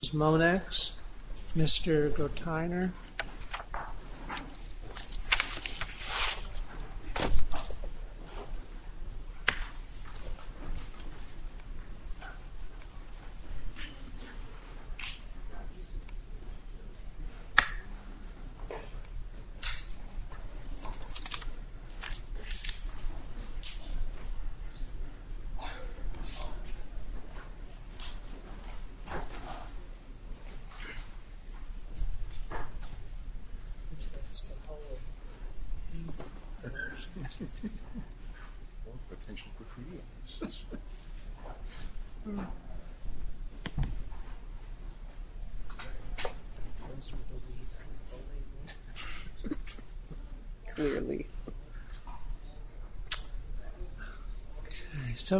This is Monex, Mr. Groteiner.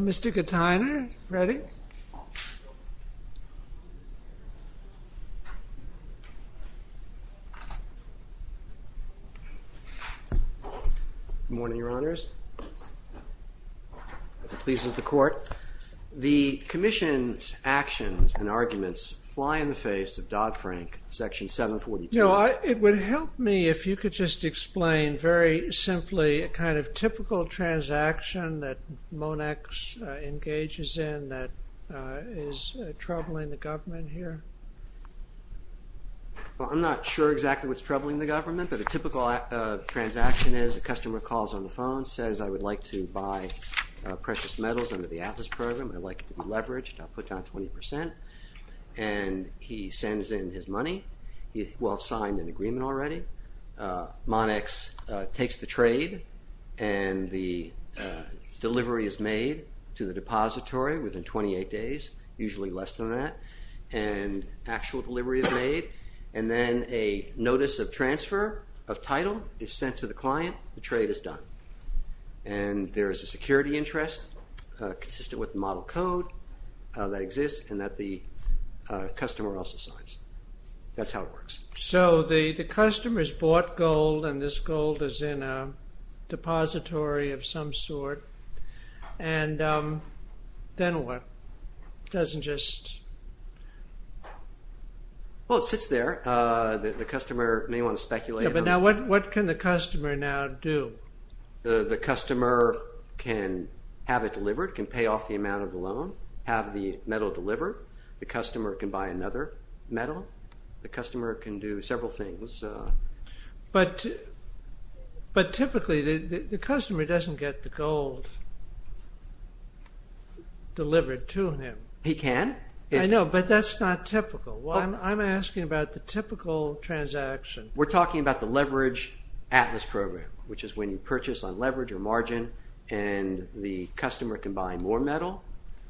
Mr. Groteiner, are you ready? Good morning, Your Honors. The Commission's actions and arguments fly in the face of Dodd-Frank, Section 742. It would help me if you could just explain very simply a kind of typical transaction that Monex engages in that is troubling the government here. Well, I'm not sure exactly what's troubling the government, but a typical transaction is a customer calls on the phone, says, I would like to buy precious metals under the Atlas program. I'd like it to be leveraged. I'll put down 20%. And he sends in his money. He will have signed an agreement already. Monex takes the trade and the delivery is made to the depository within 28 days, usually less than that, and actual delivery is made. And then a notice of transfer of title is sent to the client. The trade is done. And there is a security interest consistent with the model code that exists and that the customer also signs. That's how it works. So the customer's bought gold and this gold is in a depository of some sort. And then what? It doesn't just... Well, it sits there. The customer may want to speculate. Yeah, but now what can the customer now do? The customer can have it delivered, can pay off the amount of the loan, have the metal delivered. The customer can buy another metal. The customer can do several things. But typically the customer doesn't get the gold delivered to him. He can. I know, but that's not typical. I'm asking about the typical transaction. We're talking about the leverage Atlas program, which is when you purchase on leverage or margin and the customer can buy more metal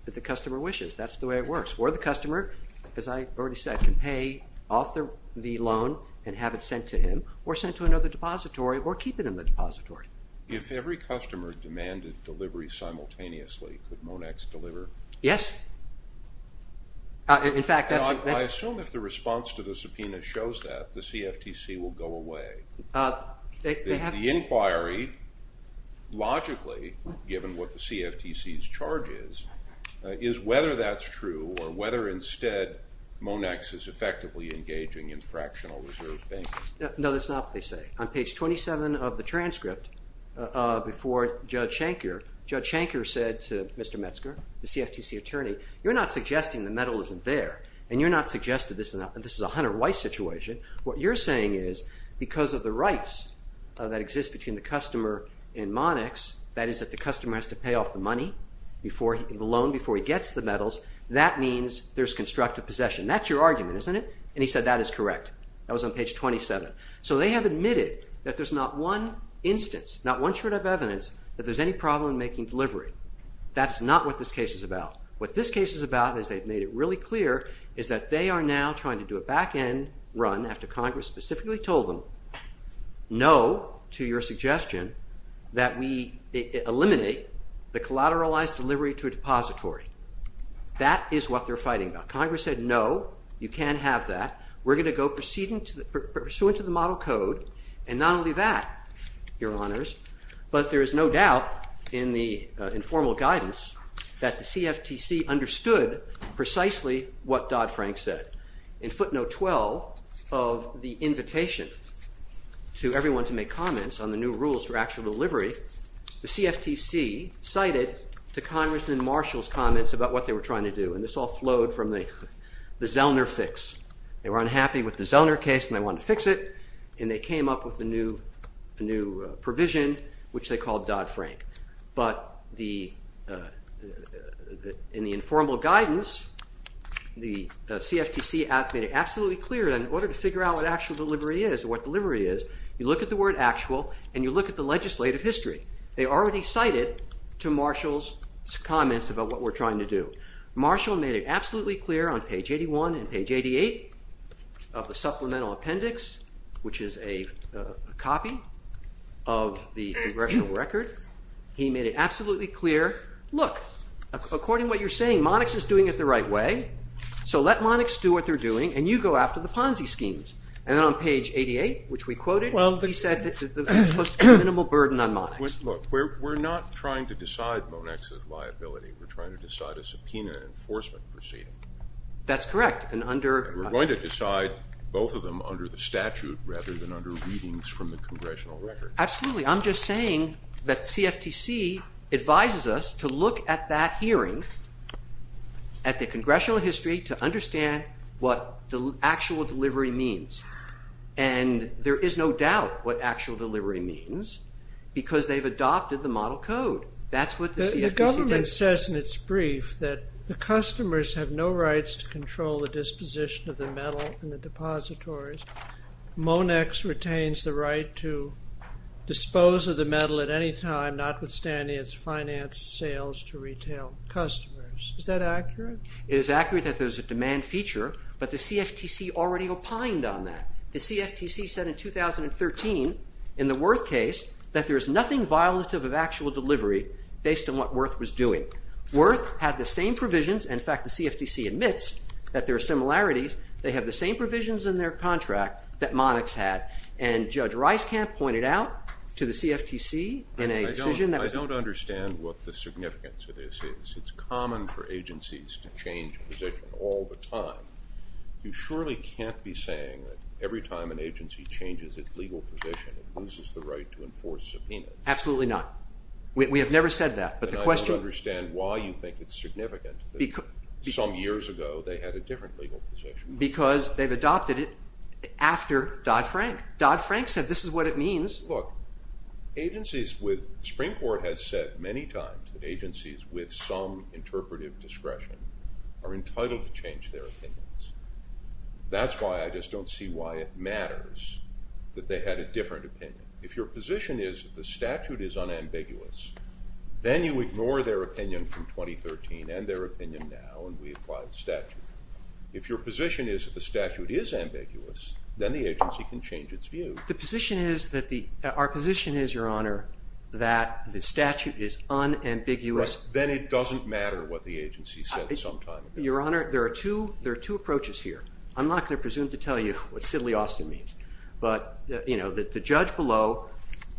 that the customer wishes. That's the way it works. Or the customer, as I've already said, can pay off the loan and have it sent to him or sent to another depository or keep it in the depository. If every customer demanded delivery simultaneously, could Monex deliver? Yes. In fact, that's... I assume if the response to the subpoena shows that, the CFTC will go away. The inquiry, logically, given what the CFTC's charge is, is whether that's true or whether instead Monex is effectively engaging in fractional reserve banking. No, that's not what they say. On page 27 of the transcript before Judge Shanker, Judge Shanker said to Mr. Metzger, the CFTC attorney, you're not suggesting the metal isn't there and you're not suggesting this is a Hunter Weiss situation. What you're saying is because of the rights that exist between the customer and Monex, that is that the customer has to pay off the money, the loan, before he gets the metals, that means there's constructive possession. That's your argument, isn't it? And he said that is correct. That was on page 27. So they have admitted that there's not one instance, not one shred of evidence that there's any problem in making delivery. That's not what this case is about. What this case is about, as they've made it really clear, is that they are now trying to do a back end run after Congress specifically told them no to your suggestion that we eliminate the collateralized delivery to a depository. That is what they're fighting about. Congress said no, you can't have that. We're going to go pursuant to the model code. And not only that, Your Honors, but there is no doubt in the informal guidance that the CFTC understood precisely what Dodd-Frank said. In footnote 12 of the invitation to everyone to make comments on the new rules for actual delivery, the CFTC cited the Congressman Marshall's comments about what they were trying to do. And this all flowed from the Zellner fix. They were unhappy with the Zellner case and they wanted to fix it, and they came up with a new provision, which they called Dodd-Frank. But in the informal guidance, the CFTC made it absolutely clear that in order to figure out what actual delivery is or what delivery is, you look at the word actual and you look at the legislative history. They already cited to Marshall's comments about what we're trying to do. Marshall made it absolutely clear on page 81 and page 88 of the supplemental appendix, which is a copy of the congressional record. He made it absolutely clear, look, according to what you're saying, Monex is doing it the right way, so let Monex do what they're doing and you go after the Ponzi schemes. And then on page 88, which we quoted, he said the minimal burden on Monex. Look, we're not trying to decide Monex's liability. We're trying to decide a subpoena enforcement proceeding. That's correct. We're going to decide both of them under the statute rather than under readings from the congressional record. Absolutely. I'm just saying that CFTC advises us to look at that hearing at the congressional history to understand what the actual delivery means. And there is no doubt what actual delivery means because they've adopted the model code. That's what the CFTC did. The government says in its brief that the customers have no rights to the disposition of the metal in the depositories. Monex retains the right to dispose of the metal at any time, notwithstanding its finance sales to retail customers. Is that accurate? It is accurate that there's a demand feature, but the CFTC already opined on that. The CFTC said in 2013 in the Wirth case that there is nothing violative of actual delivery based on what Wirth was doing. Wirth had the same provisions. In fact, the CFTC admits that there are similarities. They have the same provisions in their contract that Monex had. And Judge Reiskamp pointed out to the CFTC in a decision that was I don't understand what the significance of this is. It's common for agencies to change position all the time. You surely can't be saying that every time an agency changes its legal position, it loses the right to enforce subpoenas. Absolutely not. We have never said that. I don't understand why you think it's significant that some years ago they had a different legal position. Because they've adopted it after Dodd-Frank. Dodd-Frank said this is what it means. Look, agencies with the Supreme Court has said many times that agencies with some interpretive discretion are entitled to change their opinions. That's why I just don't see why it matters that they had a different opinion. If your position is the statute is unambiguous, then you ignore their opinion from 2013 and their opinion now and we apply the statute. If your position is that the statute is ambiguous, then the agency can change its view. Our position is, Your Honor, that the statute is unambiguous. Then it doesn't matter what the agency said some time ago. Your Honor, there are two approaches here. I'm not going to presume to tell you what Sidley Austin means. The judge below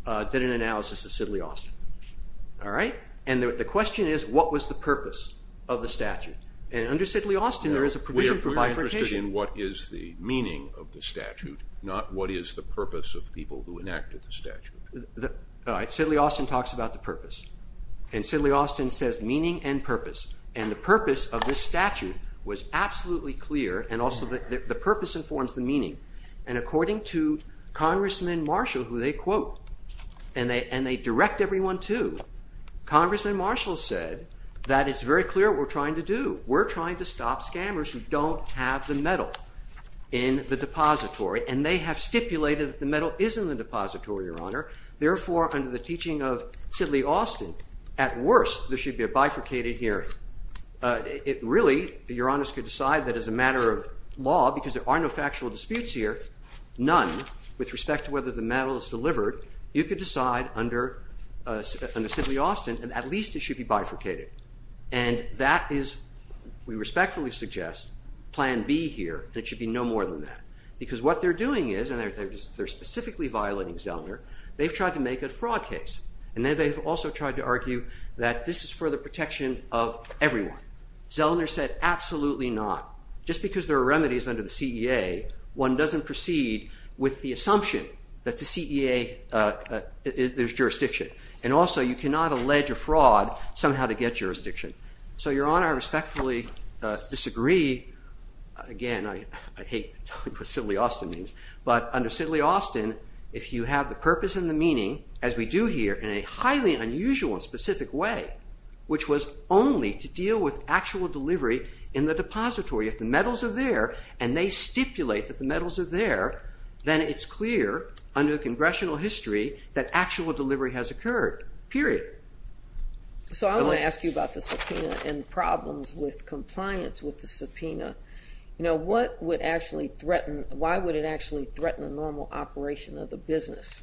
did an analysis of Sidley Austin. The question is, what was the purpose of the statute? Under Sidley Austin, there is a provision for bifurcation. We're interested in what is the meaning of the statute, not what is the purpose of people who enacted the statute. Sidley Austin talks about the purpose. Sidley Austin says meaning and purpose. The purpose of this statute was absolutely clear. The purpose informs the meaning. And according to Congressman Marshall, who they quote, and they direct everyone to, Congressman Marshall said that it's very clear what we're trying to do. We're trying to stop scammers who don't have the metal in the depository. And they have stipulated that the metal is in the depository, Your Honor. Therefore, under the teaching of Sidley Austin, at worst there should be a bifurcated hearing. It really, Your Honors, could decide that as a matter of law, because there are no factual disputes here, none, with respect to whether the metal is delivered, you could decide under Sidley Austin that at least it should be bifurcated. And that is, we respectfully suggest, plan B here, that it should be no more than that. Because what they're doing is, and they're specifically violating Zellner, they've tried to make a fraud case. And then they've also tried to argue that this is for the protection of everyone. Zellner said absolutely not. Just because there are remedies under the CEA, one doesn't proceed with the assumption that the CEA, there's jurisdiction. And also, you cannot allege a fraud somehow to get jurisdiction. So, Your Honor, I respectfully disagree. Again, I hate what Sidley Austin means. But under Sidley Austin, if you have the purpose and the meaning, as we do here in a highly unusual and specific way, which was only to deal with actual delivery in the depository, if the metals are there, and they stipulate that the metals are there, then it's clear under congressional history that actual delivery has occurred, period. So I want to ask you about the subpoena and problems with compliance with the subpoena. You know, what would actually threaten, why would it actually threaten the normal operation of the business?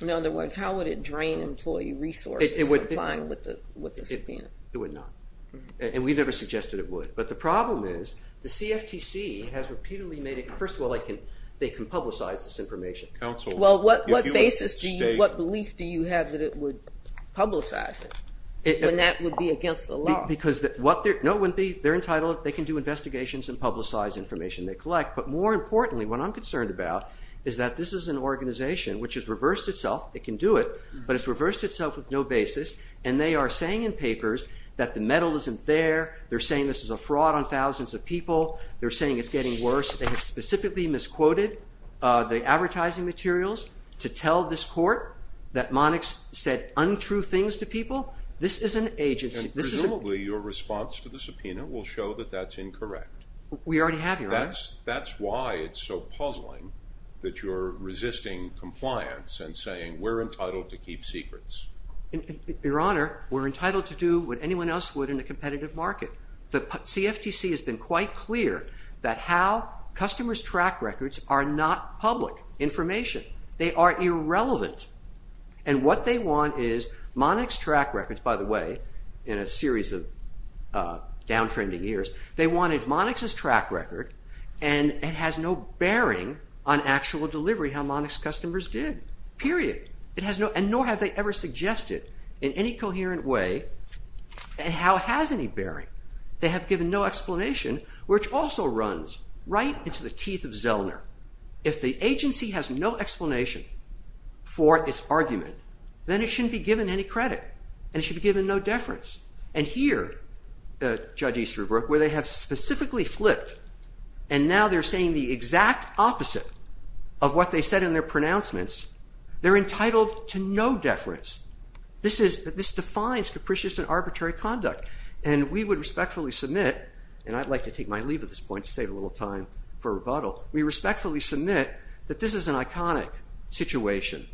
In other words, how would it drain employee resources complying with the subpoena? It would not. And we've never suggested it would. But the problem is, the CFTC has repeatedly made it... First of all, they can publicize this information. Well, what basis, what belief do you have that it would publicize it when that would be against the law? No, they're entitled, they can do investigations and publicize information they collect. But more importantly, what I'm concerned about is that this is an organization, which has reversed itself, it can do it, but it's reversed itself with no basis, and they are saying in papers that the metal isn't there, they're saying this is a fraud on thousands of people, they're saying it's getting worse. They have specifically misquoted the advertising materials to tell this court that Monix said untrue things to people. This is an agency. Presumably, your response to the subpoena will show that that's incorrect. We already have, Your Honor. That's why it's so puzzling that you're resisting compliance and saying we're entitled to keep secrets. Your Honor, we're entitled to do what anyone else would in a competitive market. The CFTC has been quite clear that how customers track records are not public information. They are irrelevant. And what they want is Monix track records, by the way, in a series of down-trending years, they wanted Monix's track record, and it has no bearing on actual delivery, how Monix's customers did, period. And nor have they ever suggested in any coherent way how it has any bearing. They have given no explanation, which also runs right into the teeth of Zellner. If the agency has no explanation for its argument, then it shouldn't be given any credit, and it should be given no deference. And here, Judge Easterbrook, where they have specifically flipped, and now they're saying the exact opposite of what they said in their pronouncements, they're entitled to no deference. This defines capricious and arbitrary conduct. And we would respectfully submit, and I'd like to take my leave at this point to save a little time for rebuttal, we respectfully submit that this is an iconic situation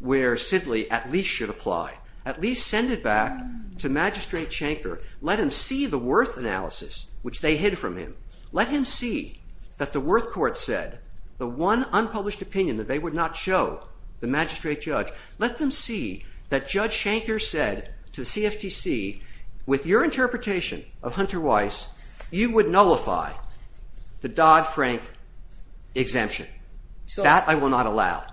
where Sidley at least should apply, at least send it back to Magistrate Shanker, let him see the Worth analysis, which they hid from him. Let him see that the Worth court said the one unpublished opinion that they would not show, the magistrate judge, let them see that Judge Shanker said to the CFTC, with your interpretation of Hunter Weiss, you would nullify the Dodd-Frank exemption. That I will not allow.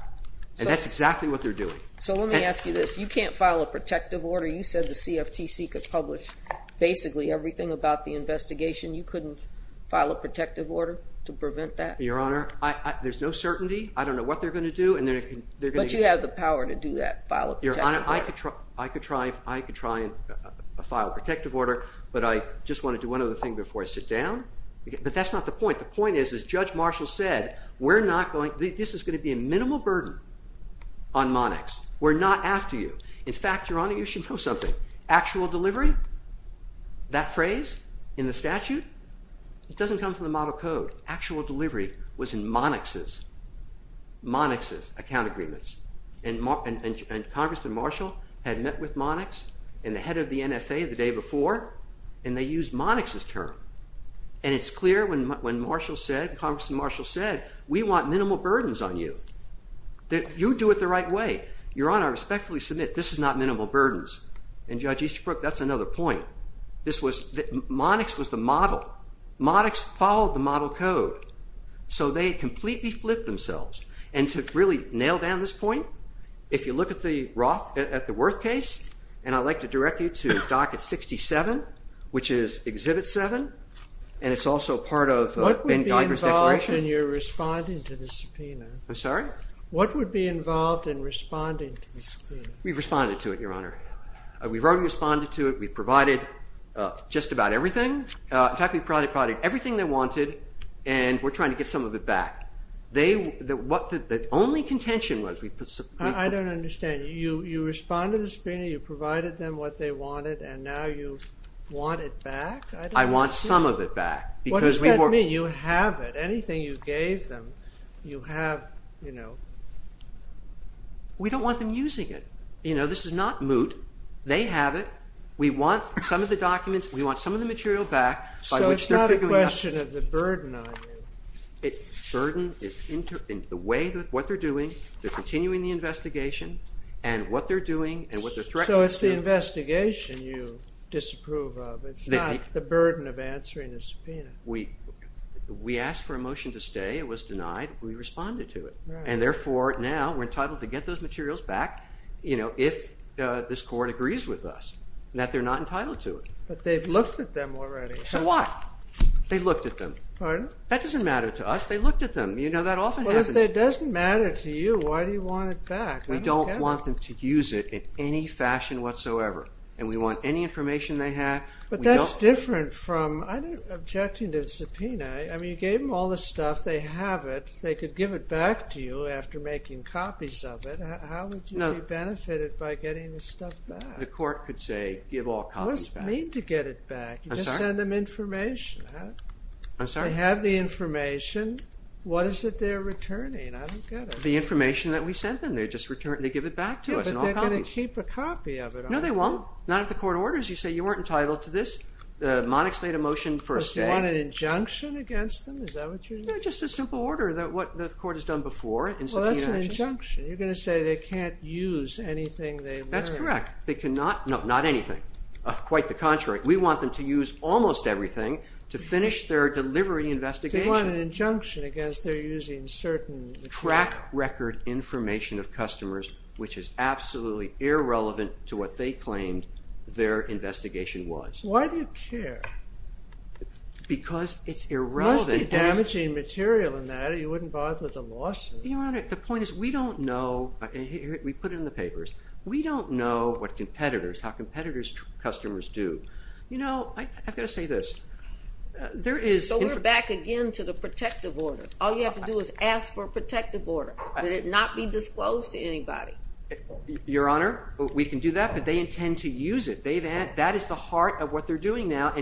And that's exactly what they're doing. So let me ask you this. You can't file a protective order. You said the CFTC could publish basically everything about the investigation. You couldn't file a protective order to prevent that? Your Honor, there's no certainty. I don't know what they're going to do. But you have the power to do that, file a protective order. Your Honor, I could try and file a protective order, but I just want to do one other thing before I sit down. But that's not the point. The point is, as Judge Marshall said, this is going to be a minimal burden on Monarchs. We're not after you. In fact, Your Honor, you should know something. Actual delivery, that phrase in the statute, it doesn't come from the model code. Actual delivery was in Monarchs' account agreements. And Congressman Marshall had met with Monarchs and the head of the NFA the day before, and they used Monarchs' term. And it's clear when Congressman Marshall said, we want minimal burdens on you. You do it the right way. Your Honor, I respectfully submit, this is not minimal burdens. And Judge Easterbrook, that's another point. Monarchs was the model. Monarchs followed the model code. So they completely flipped themselves. And to really nail down this point, if you look at the Worth case, and I'd like to direct you to Docket 67, which is Exhibit 7, and it's also part of Ben Guidler's declaration. What would be involved in your responding to the subpoena? I'm sorry? What would be involved in responding to the subpoena? We've responded to it, Your Honor. We've already responded to it. We've provided just about everything. In fact, we've provided everything they wanted, and we're trying to get some of it back. The only contention was we put subpoena. I don't understand. You responded to the subpoena. You provided them what they wanted, and now you want it back? I want some of it back. What does that mean? You have it. Anything you gave them, you have. We don't want them using it. This is not moot. They have it. We want some of the documents. We want some of the material back by which they're figuring out. So it's not a question of the burden on you. Burden is the way that what they're doing. They're continuing the investigation, and what they're doing and what they're threatening to do. So it's the investigation you disapprove of. It's not the burden of answering the subpoena. We asked for a motion to stay. It was denied. We responded to it. And therefore, now we're entitled to get those materials back if this court agrees with us, and that they're not entitled to it. But they've looked at them already. So what? They looked at them. Pardon? That doesn't matter to us. They looked at them. You know, that often happens. Well, if that doesn't matter to you, why do you want it back? We don't want them to use it in any fashion whatsoever. And we want any information they have. But that's different from objecting to the subpoena. I mean, you gave them all this stuff. They have it. They could give it back to you after making copies of it. How would you be benefited by getting this stuff back? The court could say, give all copies back. What does it mean to get it back? I'm sorry? You just send them information. I'm sorry? They have the information. What is it they're returning? I don't get it. The information that we sent them. They're just returning. They give it back to us in all copies. Yeah, but they're going to keep a copy of it, aren't they? No, they won't. Not if the court orders you. Say, you weren't entitled to this. The monarchs made a motion for a stay. But you want an injunction against them? Is that what you're saying? No, just a simple order. What the court has done before, in subpoena action. Well, that's an injunction. You're going to say they can't use anything they learned. That's correct. They cannot. No, not anything. Quite the contrary. We want them to use almost everything to finish their delivery investigation. So you want an injunction against their using certain... Track record information of customers, which is absolutely irrelevant to what they claimed their investigation was. Why do you care? Because it's irrelevant. It must be damaging material in that. You wouldn't bother with a lawsuit. Your Honor, the point is we don't know. We put it in the papers. We don't know what competitors, how competitors' customers do. You know, I've got to say this. So we're back again to the protective order. All you have to do is ask for a protective order. Let it not be disclosed to anybody. Your Honor, we can do that, but they intend to use it. That is the heart of what they're doing now.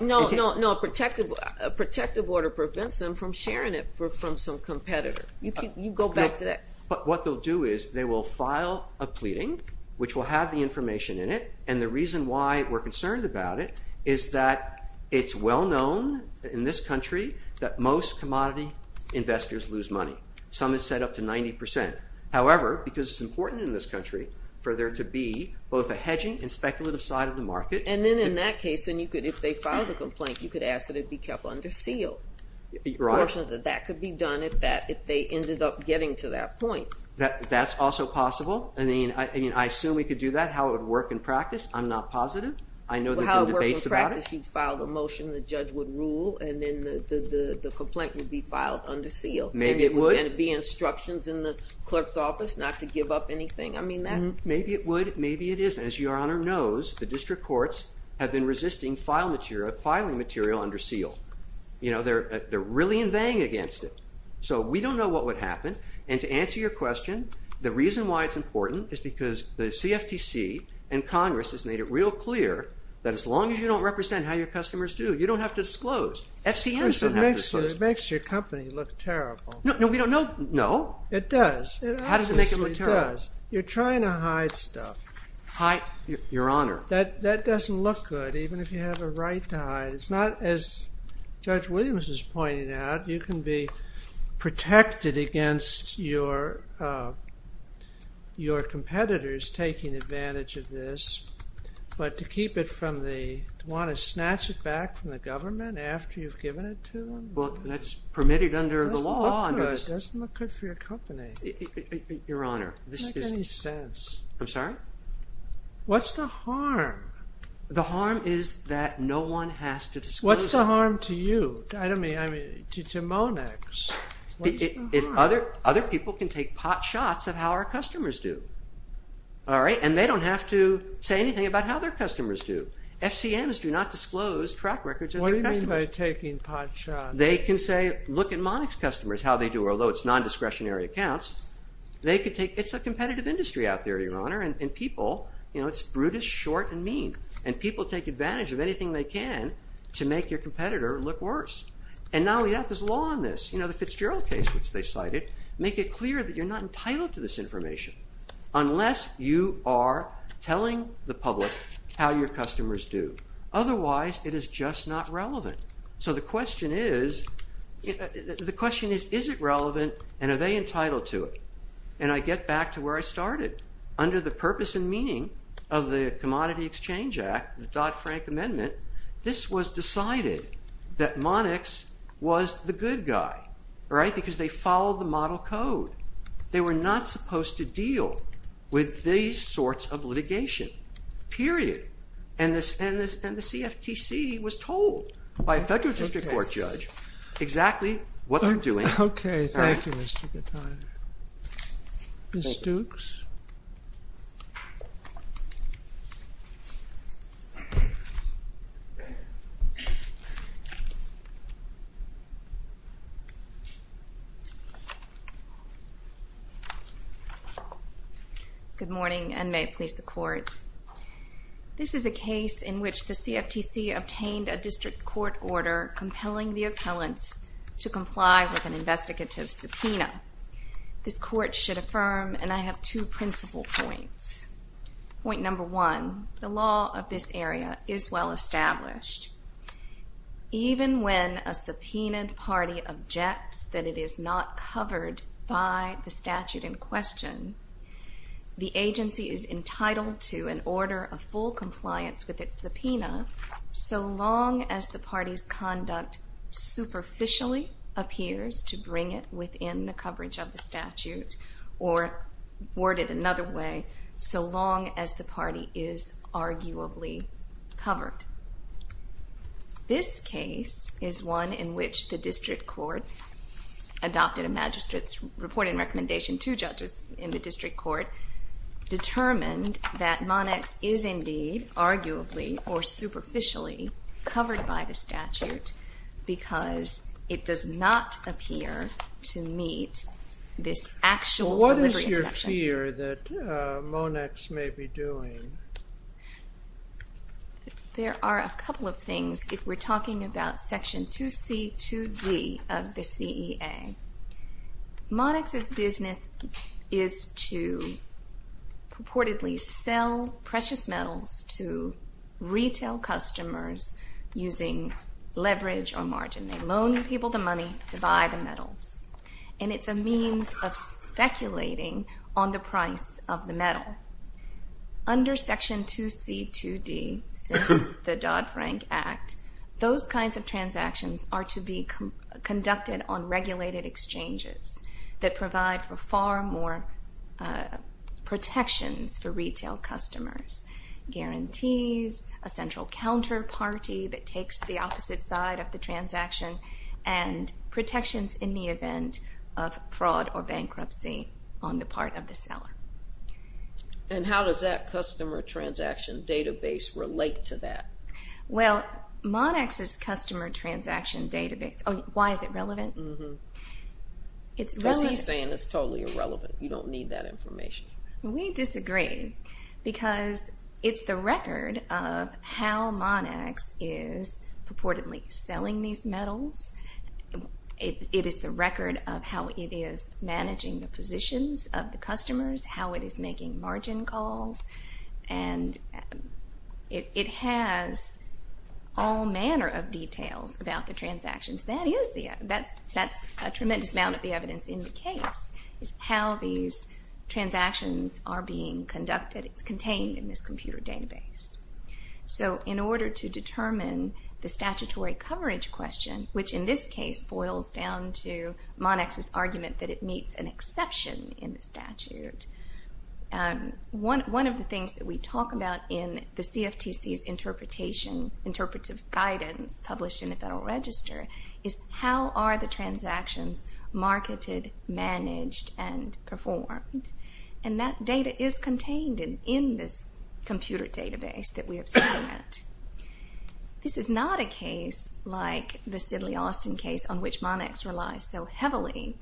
No, no, no. A protective order prevents them from sharing it from some competitor. You go back to that. But what they'll do is they will file a pleading, which will have the information in it, and the reason why we're concerned about it is that it's well known in this country that most commodity investors lose money. Some have said up to 90%. However, because it's important in this country for there to be both a hedging and speculative side of the market. And then in that case, if they file the complaint, you could ask that it be kept under seal. Your Honor. My caution is that that could be done if they ended up getting to that point. That's also possible. I mean, I assume we could do that. How it would work in practice, I'm not positive. I know there's been debates about it. Well, how it would work in practice, you'd file the motion, the judge would rule, and then the complaint would be filed under seal. Maybe it would. And there would be instructions in the clerk's office not to give up anything. I mean that. Maybe it would. Maybe it isn't. As Your Honor knows, the district courts have been resisting filing material under seal. They're really inveighing against it. So we don't know what would happen. And to answer your question, the reason why it's important is because the CFTC and Congress has made it real clear that as long as you don't represent how your customers do, you don't have to disclose. FCMs don't have to disclose. It makes your company look terrible. No, we don't know. No. It does. How does it make it look terrible? You're trying to hide stuff. Your Honor. That doesn't look good, even if you have a right to hide. It's not, as Judge Williams was pointing out, you can be protected against your competitors taking advantage of this. But to keep it from the, to want to snatch it back from the government after you've given it to them? Well, that's permitted under the law. It doesn't look good. It doesn't look good for your company. Your Honor. It doesn't make any sense. I'm sorry? What's the harm? Your Honor, the harm is that no one has to disclose. What's the harm to you? I don't mean, I mean, to Monex. What's the harm? Other people can take pot shots of how our customers do. All right? And they don't have to say anything about how their customers do. FCMs do not disclose track records of their customers. What do you mean by taking pot shots? They can say, look at Monex customers, how they do, although it's non-discretionary accounts. They could take, it's a competitive industry out there, Your Honor. And people, you know, it's brutish, short, and mean. And people take advantage of anything they can to make your competitor look worse. And now we have this law on this. You know, the Fitzgerald case, which they cited, make it clear that you're not entitled to this information unless you are telling the public how your customers do. Otherwise, it is just not relevant. So the question is, the question is, is it relevant and are they entitled to it? And I get back to where I started. Under the purpose and meaning of the Commodity Exchange Act, the Dodd-Frank Amendment, this was decided that Monex was the good guy. All right? Because they followed the model code. They were not supposed to deal with these sorts of litigation. Period. And the CFTC was told by a federal district court judge exactly what they're doing. Okay. Thank you, Mr. Gutierrez. Ms. Stooks? Good morning, and may it please the Court. This is a case in which the CFTC obtained a district court order compelling the appellants to comply with an investigative subpoena. This Court should affirm, and I have two principal points. Point number one, the law of this area is well established. Even when a subpoenaed party objects that it is not covered by the statute in question, the agency is entitled to an order of full compliance with its subpoena, so long as the party's conduct superficially appears to bring it within the coverage of the statute, or worded another way, so long as the party is arguably covered. This case is one in which the district court adopted a magistrate's reporting recommendation to judges in the district court, determined that Monex is indeed arguably or superficially covered by the statute because it does not appear to meet this actual delivery exception. What is your fear that Monex may be doing? There are a couple of things. If we're talking about Section 2C, 2D of the CEA, Monex's business is to purportedly sell precious metals to retail customers using leverage or margin. They loan people the money to buy the metals, and it's a means of speculating on the price of the metal. Under Section 2C, 2D, the Dodd-Frank Act, those kinds of transactions are to be conducted on regulated exchanges that provide for far more protections for retail customers, guarantees, a central counterparty that takes the opposite side of the transaction, and protections in the event of fraud or bankruptcy on the part of the seller. And how does that customer transaction database relate to that? Well, Monex's customer transaction database—oh, why is it relevant? Mm-hmm. It's really— I'm not saying it's totally irrelevant. You don't need that information. We disagree because it's the record of how Monex is purportedly selling these metals. It is the record of how it is managing the positions of the customers, how it is making margin calls. And it has all manner of details about the transactions. That's a tremendous amount of the evidence in the case, is how these transactions are being conducted. It's contained in this computer database. So in order to determine the statutory coverage question, which in this case boils down to Monex's argument that it meets an exception in the statute, one of the things that we talk about in the CFTC's interpretation— interpretive guidance published in the Federal Register is how are the transactions marketed, managed, and performed. And that data is contained in this computer database that we have seen that. This is not a case like the Sidley Austin case, on which Monex relies so heavily,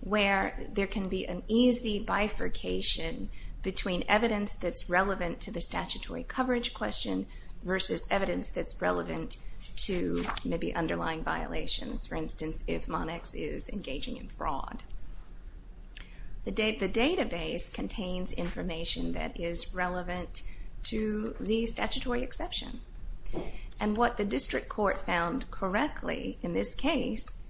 where there can be an easy bifurcation between evidence that's relevant to the statutory coverage question versus evidence that's relevant to maybe underlying violations. For instance, if Monex is engaging in fraud. The database contains information that is relevant to the statutory exception. And what the district court found correctly in this case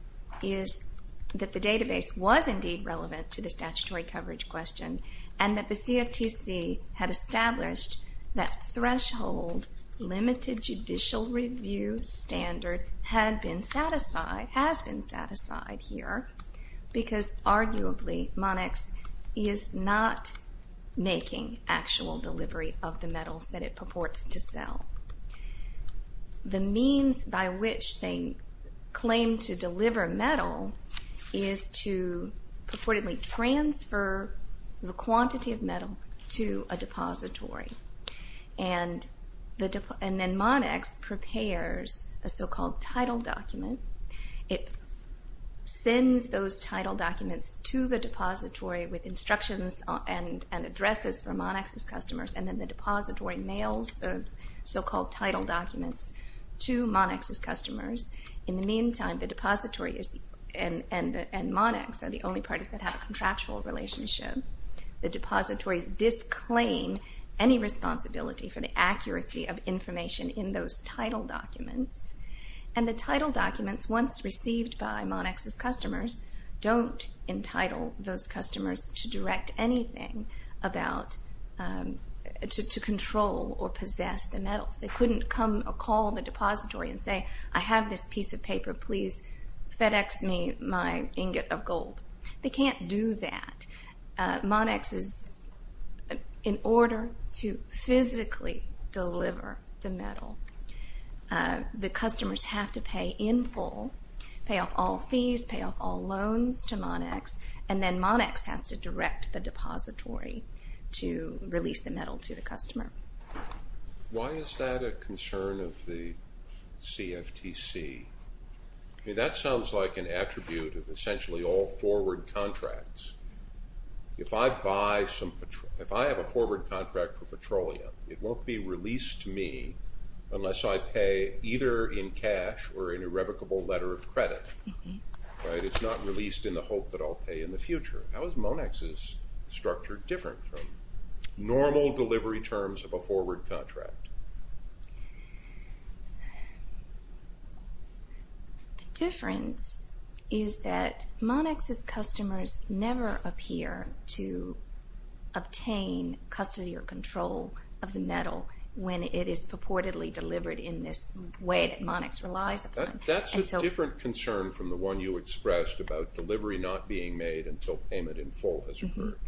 is that the database was indeed relevant to the statutory coverage question and that the CFTC had established that threshold limited judicial review standard had been satisfied, has been satisfied here, because arguably Monex is not making actual delivery of the metals that it purports to sell. The means by which they claim to deliver metal is to purportedly transfer the quantity of metal to a depository. And then Monex prepares a so-called title document. It sends those title documents to the depository with instructions and addresses for Monex's customers, and then the depository mails the so-called title documents to Monex's customers. In the meantime, the depository and Monex are the only parties that have a contractual relationship. The depositories disclaim any responsibility for the accuracy of information in those title documents. And the title documents, once received by Monex's customers, don't entitle those customers to direct anything to control or possess the metals. They couldn't come or call the depository and say, I have this piece of paper, please FedEx me my ingot of gold. They can't do that. Monex is, in order to physically deliver the metal, the customers have to pay in full, pay off all fees, pay off all loans to Monex, and then Monex has to direct the depository to release the metal to the customer. Why is that a concern of the CFTC? That sounds like an attribute of essentially all forward contracts. If I have a forward contract for petroleum, it won't be released to me unless I pay either in cash or an irrevocable letter of credit. It's not released in the hope that I'll pay in the future. How is Monex's structure different from normal delivery terms of a forward contract? The difference is that Monex's customers never appear to obtain custody or control of the metal when it is purportedly delivered in this way that Monex relies upon. That's a different concern from the one you expressed about delivery not being made until payment in full has occurred.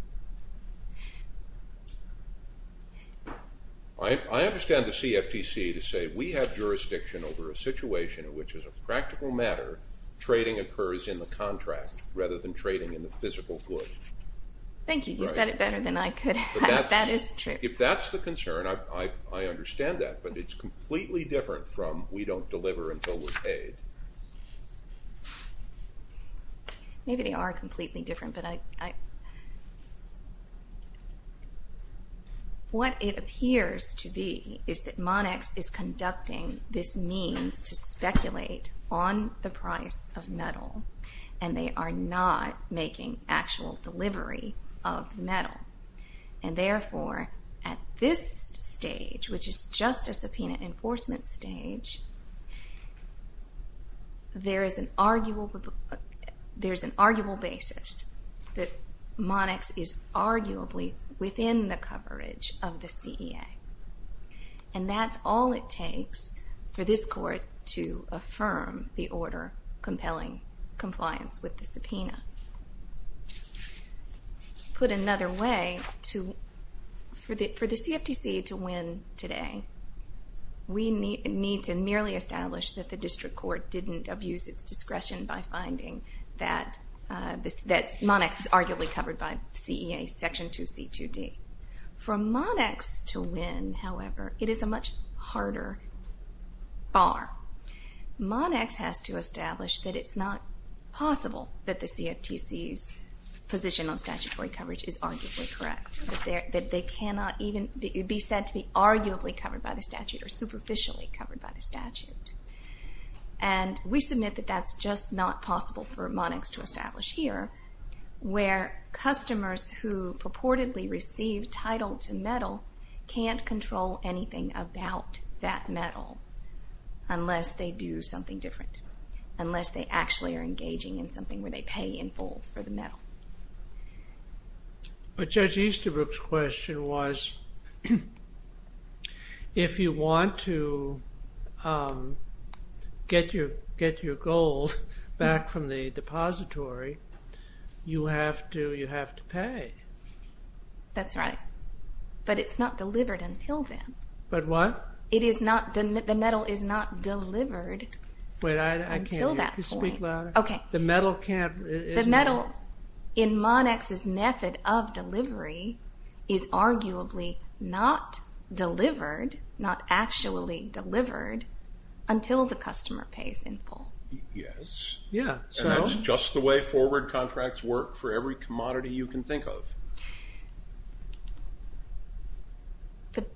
I understand the CFTC to say we have jurisdiction over a situation in which, as a practical matter, trading occurs in the contract rather than trading in the physical good. Thank you. You said it better than I could. That is true. If that's the concern, I understand that, but it's completely different from we don't deliver until we're paid. Maybe they are completely different. What it appears to be is that Monex is conducting this means to speculate on the price of metal, and they are not making actual delivery of metal. Therefore, at this stage, which is just a subpoena enforcement stage, there is an arguable basis that Monex is arguably within the coverage of the CEA. That's all it takes for this Court to affirm the order compelling compliance with the subpoena. To put it another way, for the CFTC to win today, we need to merely establish that the District Court didn't abuse its discretion by finding that Monex is arguably covered by CEA Section 2C2D. For Monex to win, however, it is a much harder bar. Monex has to establish that it's not possible that the CFTC's position on statutory coverage is arguably correct, that they cannot even be said to be arguably covered by the statute or superficially covered by the statute. We submit that that's just not possible for Monex to establish here, where customers who purportedly receive title to metal can't control anything about that metal unless they do something different, unless they actually are engaging in something where they pay in full for the metal. But Judge Easterbrook's question was, if you want to get your gold back from the depository, you have to pay. That's right, but it's not delivered until then. But what? The metal is not delivered until that point. Wait, I can't hear you. Speak louder. Okay. The metal can't... The metal in Monex's method of delivery is arguably not delivered, not actually delivered until the customer pays in full. Yes. Yeah, so... And that's just the way forward contracts work for every commodity you can think of. But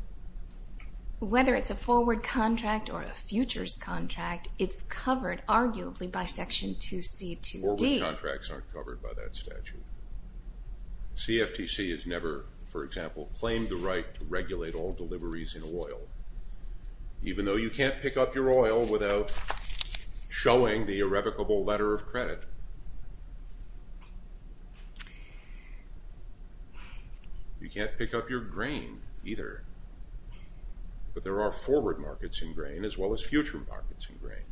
whether it's a forward contract or a futures contract, it's covered arguably by Section 2C2D. Forward contracts aren't covered by that statute. CFTC has never, for example, claimed the right to regulate all deliveries in oil, even though you can't pick up your oil without showing the irrevocable letter of credit. You can't pick up your grain, either. But there are forward markets in grain as well as future markets in grain.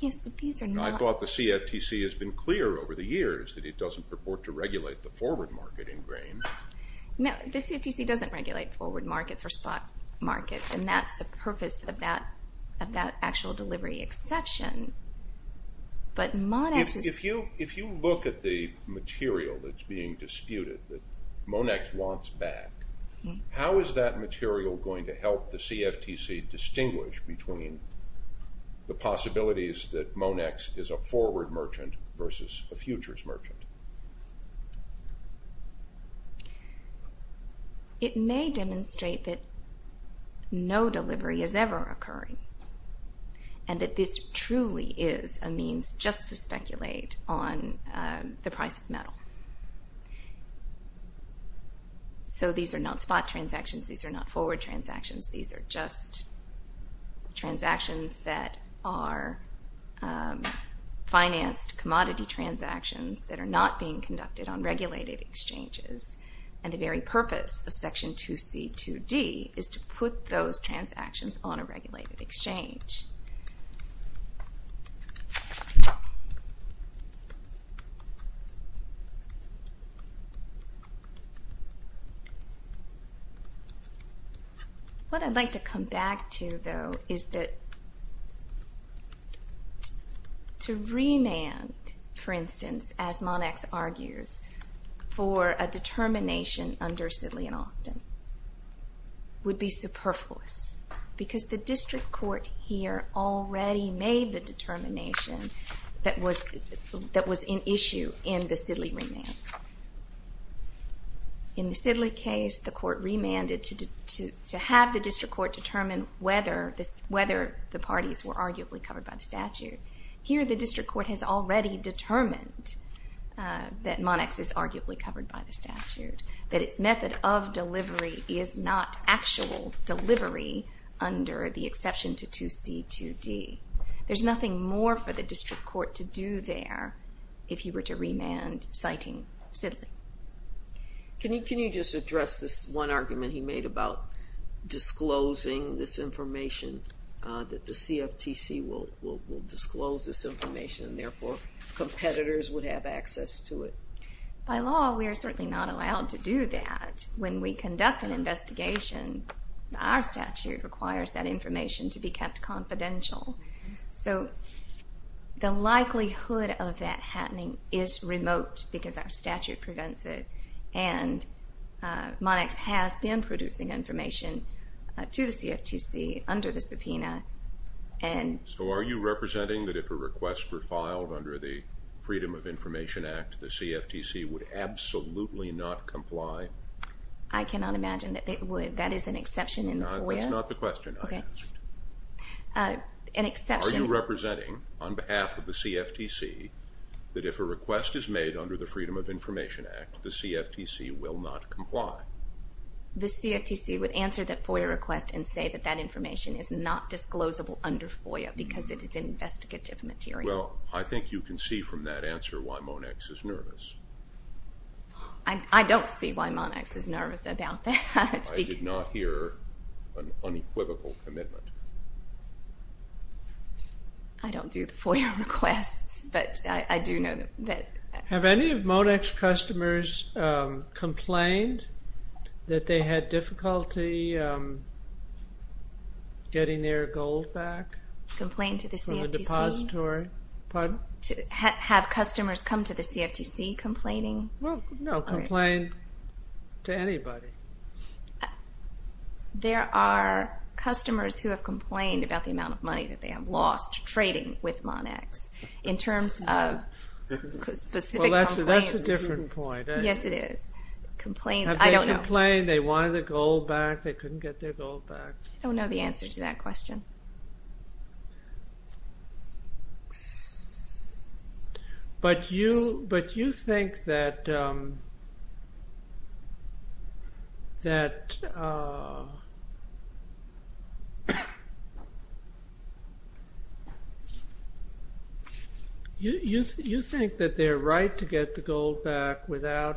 Yes, but these are not... I thought the CFTC has been clear over the years that it doesn't purport to regulate the forward market in grain. No, the CFTC doesn't regulate forward markets or spot markets, and that's the purpose of that actual delivery exception. But Monex... If you look at the material that's being disputed that Monex wants back, how is that material going to help the CFTC distinguish between the possibilities that Monex is a forward merchant versus a futures merchant? It may demonstrate that no delivery is ever occurring and that this truly is a means just to speculate on the price of metal. So these are not spot transactions. These are not forward transactions. These are just transactions that are financed commodity transactions that are not being conducted on regulated exchanges, and the very purpose of Section 2C, 2D is to put those transactions on a regulated exchange. What I'd like to come back to, though, is that to remand, for instance, as Monex argues, for a determination under Sidley and Austin would be superfluous because the district court here already made the determination that was in issue in the Sidley remand. In the Sidley case, the court remanded to have the district court determine whether the parties were arguably covered by the statute. Here, the district court has already determined that Monex is arguably covered by the statute, that its method of delivery is not actual delivery under the exception to 2C, 2D. There's nothing more for the district court to do there if he were to remand citing Sidley. Can you just address this one argument he made about disclosing this information, that the CFTC will disclose this information and therefore competitors would have access to it? By law, we are certainly not allowed to do that. When we conduct an investigation, our statute requires that information to be kept confidential. So the likelihood of that happening is remote because our statute prevents it, and Monex has been producing information to the CFTC under the subpoena. So are you representing that if a request were filed under the Freedom of Information Act, the CFTC would absolutely not comply? I cannot imagine that it would. That is an exception in the FOIA? That's not the question I asked. Are you representing, on behalf of the CFTC, that if a request is made under the Freedom of Information Act, the CFTC will not comply? The CFTC would answer that FOIA request and say that that information is not disclosable under FOIA because it is investigative material. Well, I think you can see from that answer why Monex is nervous. I don't see why Monex is nervous about that. I did not hear an unequivocal commitment. I don't do the FOIA requests, but I do know that... Have any of Monex customers complained that they had difficulty getting their gold back? Complained to the CFTC? From the depository? Pardon? Have customers come to the CFTC complaining? Well, no, complained to anybody. There are customers who have complained about the amount of money that they have lost trading with Monex. In terms of specific complaints. Well, that's a different point. Yes, it is. Complaints, I don't know. They complained, they wanted their gold back, they couldn't get their gold back. I don't know the answer to that question. But you think that... You think that their right to get the gold back without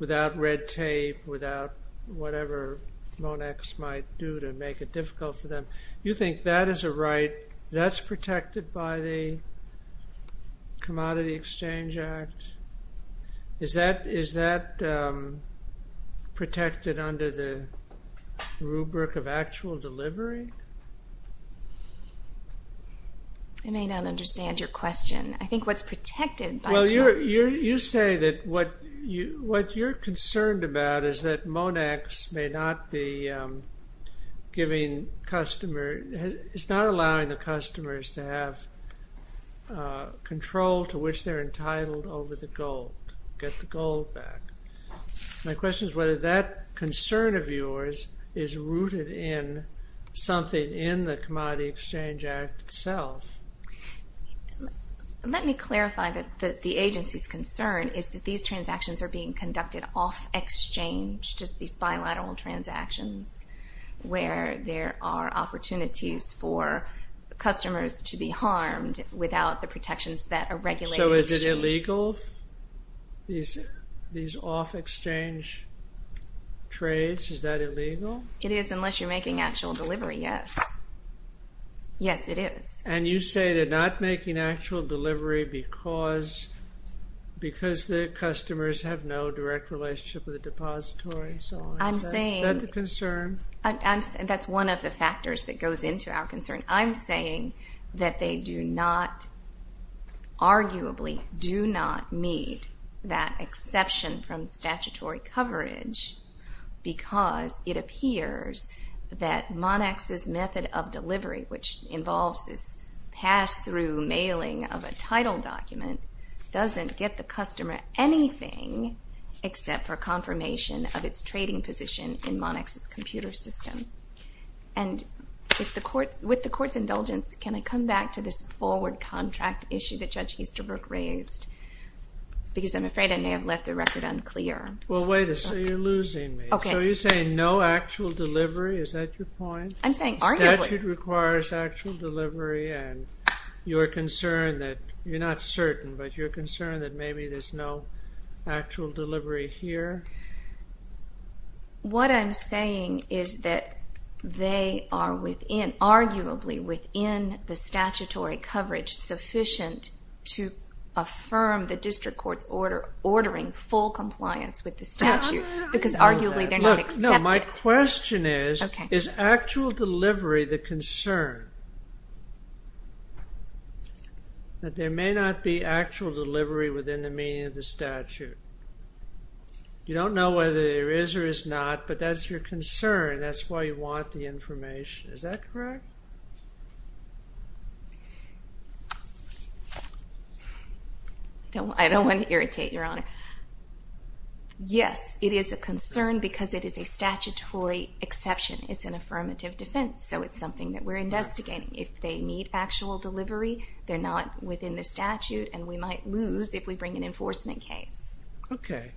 red tape, without whatever Monex might do to make it difficult for them, you think that is a right that's protected by the Commodity Exchange Act? Is that protected under the rubric of actual delivery? I may not understand your question. I think what's protected by the... Well, you say that what you're concerned about is that Monex may not be giving customers... It's not allowing the customers to have control to which they're entitled over the gold, get the gold back. My question is whether that concern of yours is rooted in something in the Commodity Exchange Act itself. Let me clarify that the agency's concern is that these transactions are being conducted off exchange, just these bilateral transactions, where there are opportunities for customers to be harmed without the protections that a regulated exchange... So is it illegal, these off exchange trades? Is that illegal? It is, unless you're making actual delivery, yes. Yes, it is. And you say they're not making actual delivery because the customers have no direct relationship with the depository? I'm saying... Is that the concern? That's one of the factors that goes into our concern. I'm saying that they do not, arguably, do not meet that exception from statutory coverage because it appears that Monax's method of delivery, which involves this pass-through mailing of a title document, doesn't get the customer anything except for confirmation of its trading position in Monax's computer system. And with the Court's indulgence, can I come back to this forward contract issue that Judge Easterbrook raised? Because I'm afraid I may have left the record unclear. Well, wait a second, you're losing me. So you're saying no actual delivery? Is that your point? I'm saying arguably... The statute requires actual delivery, and you're concerned that, you're not certain, but you're concerned that maybe there's no actual delivery here? What I'm saying is that they are within, arguably within the statutory coverage to affirm the District Court's ordering full compliance with the statute because arguably they're not accepted. No, my question is, is actual delivery the concern? That there may not be actual delivery within the meaning of the statute. You don't know whether there is or is not, but that's your concern. That's why you want the information. Is that correct? No, I don't want to irritate Your Honor. Yes, it is a concern because it is a statutory exception. It's an affirmative defense, so it's something that we're investigating. If they need actual delivery, they're not within the statute, and we might lose if we bring an enforcement case. Okay.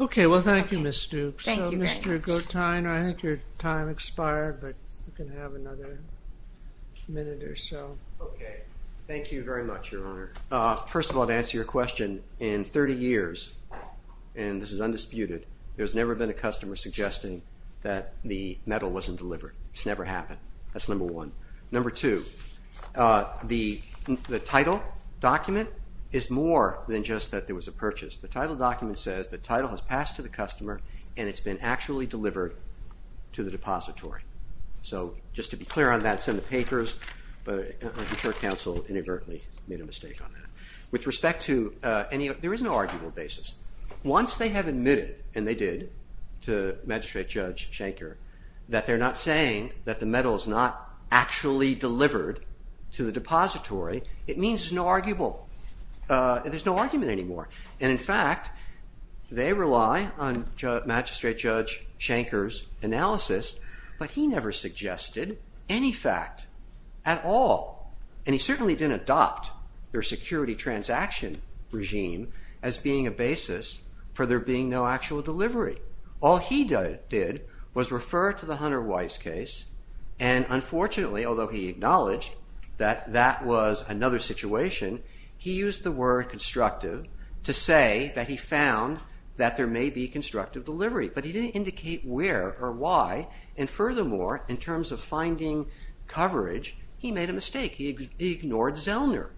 Okay, well, thank you, Ms. Dukes. Thank you very much. Mr. Gottheiner, I think your time expired, but you can have another minute or so. Okay. Thank you very much, Your Honor. First of all, to answer your question, in 30 years, and this is undisputed, there's never been a customer suggesting that the metal wasn't delivered. It's never happened. That's number one. Number two, the title document is more than just that there was a purchase. The title document says the title has passed to the customer and it's been actually delivered to the depository. So just to be clear on that, it's in the papers, but I'm sure counsel inadvertently made a mistake on that. With respect to any of it, there is no arguable basis. Once they have admitted, and they did to Magistrate Judge Schenker, that they're not saying that the metal is not actually delivered to the depository, it means there's no arguable. There's no argument anymore. And, in fact, they rely on Magistrate Judge Schenker's analysis, but he never suggested any fact at all. And he certainly didn't adopt their security transaction regime as being a basis for there being no actual delivery. All he did was refer to the Hunter Weiss case, and unfortunately, although he acknowledged that that was another situation, he used the word constructive to say that he found that there may be constructive delivery. But he didn't indicate where or why, and furthermore, in terms of finding coverage, he made a mistake. He ignored Zellner.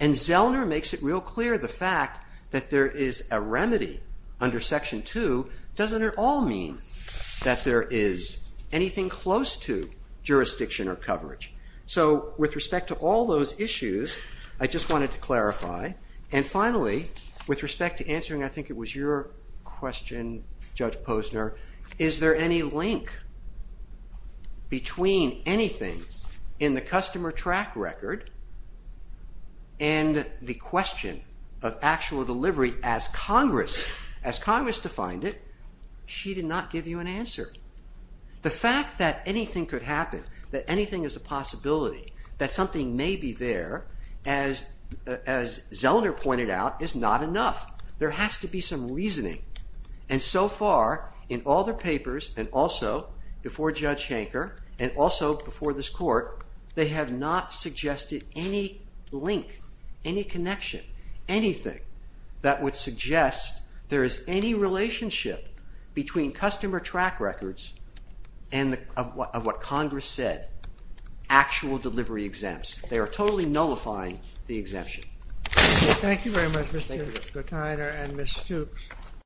And Zellner makes it real clear the fact that there is a remedy under Section 2 doesn't at all mean that there is anything close to jurisdiction or coverage. So with respect to all those issues, I just wanted to clarify. And finally, with respect to answering, I think it was your question, Judge Posner, is there any link between anything in the customer track record and the question of actual delivery as Congress defined it? She did not give you an answer. The fact that anything could happen, that anything is a possibility, that something may be there, as Zellner pointed out, is not enough. There has to be some reasoning. And so far, in all the papers, and also before Judge Hanker, and also before this Court, they have not suggested any link, any connection, anything that would suggest there is any relationship between customer track records and of what Congress said, actual delivery exempts. They are totally nullifying the exemption. Thank you very much, Mr. Gertiner and Ms. Stokes.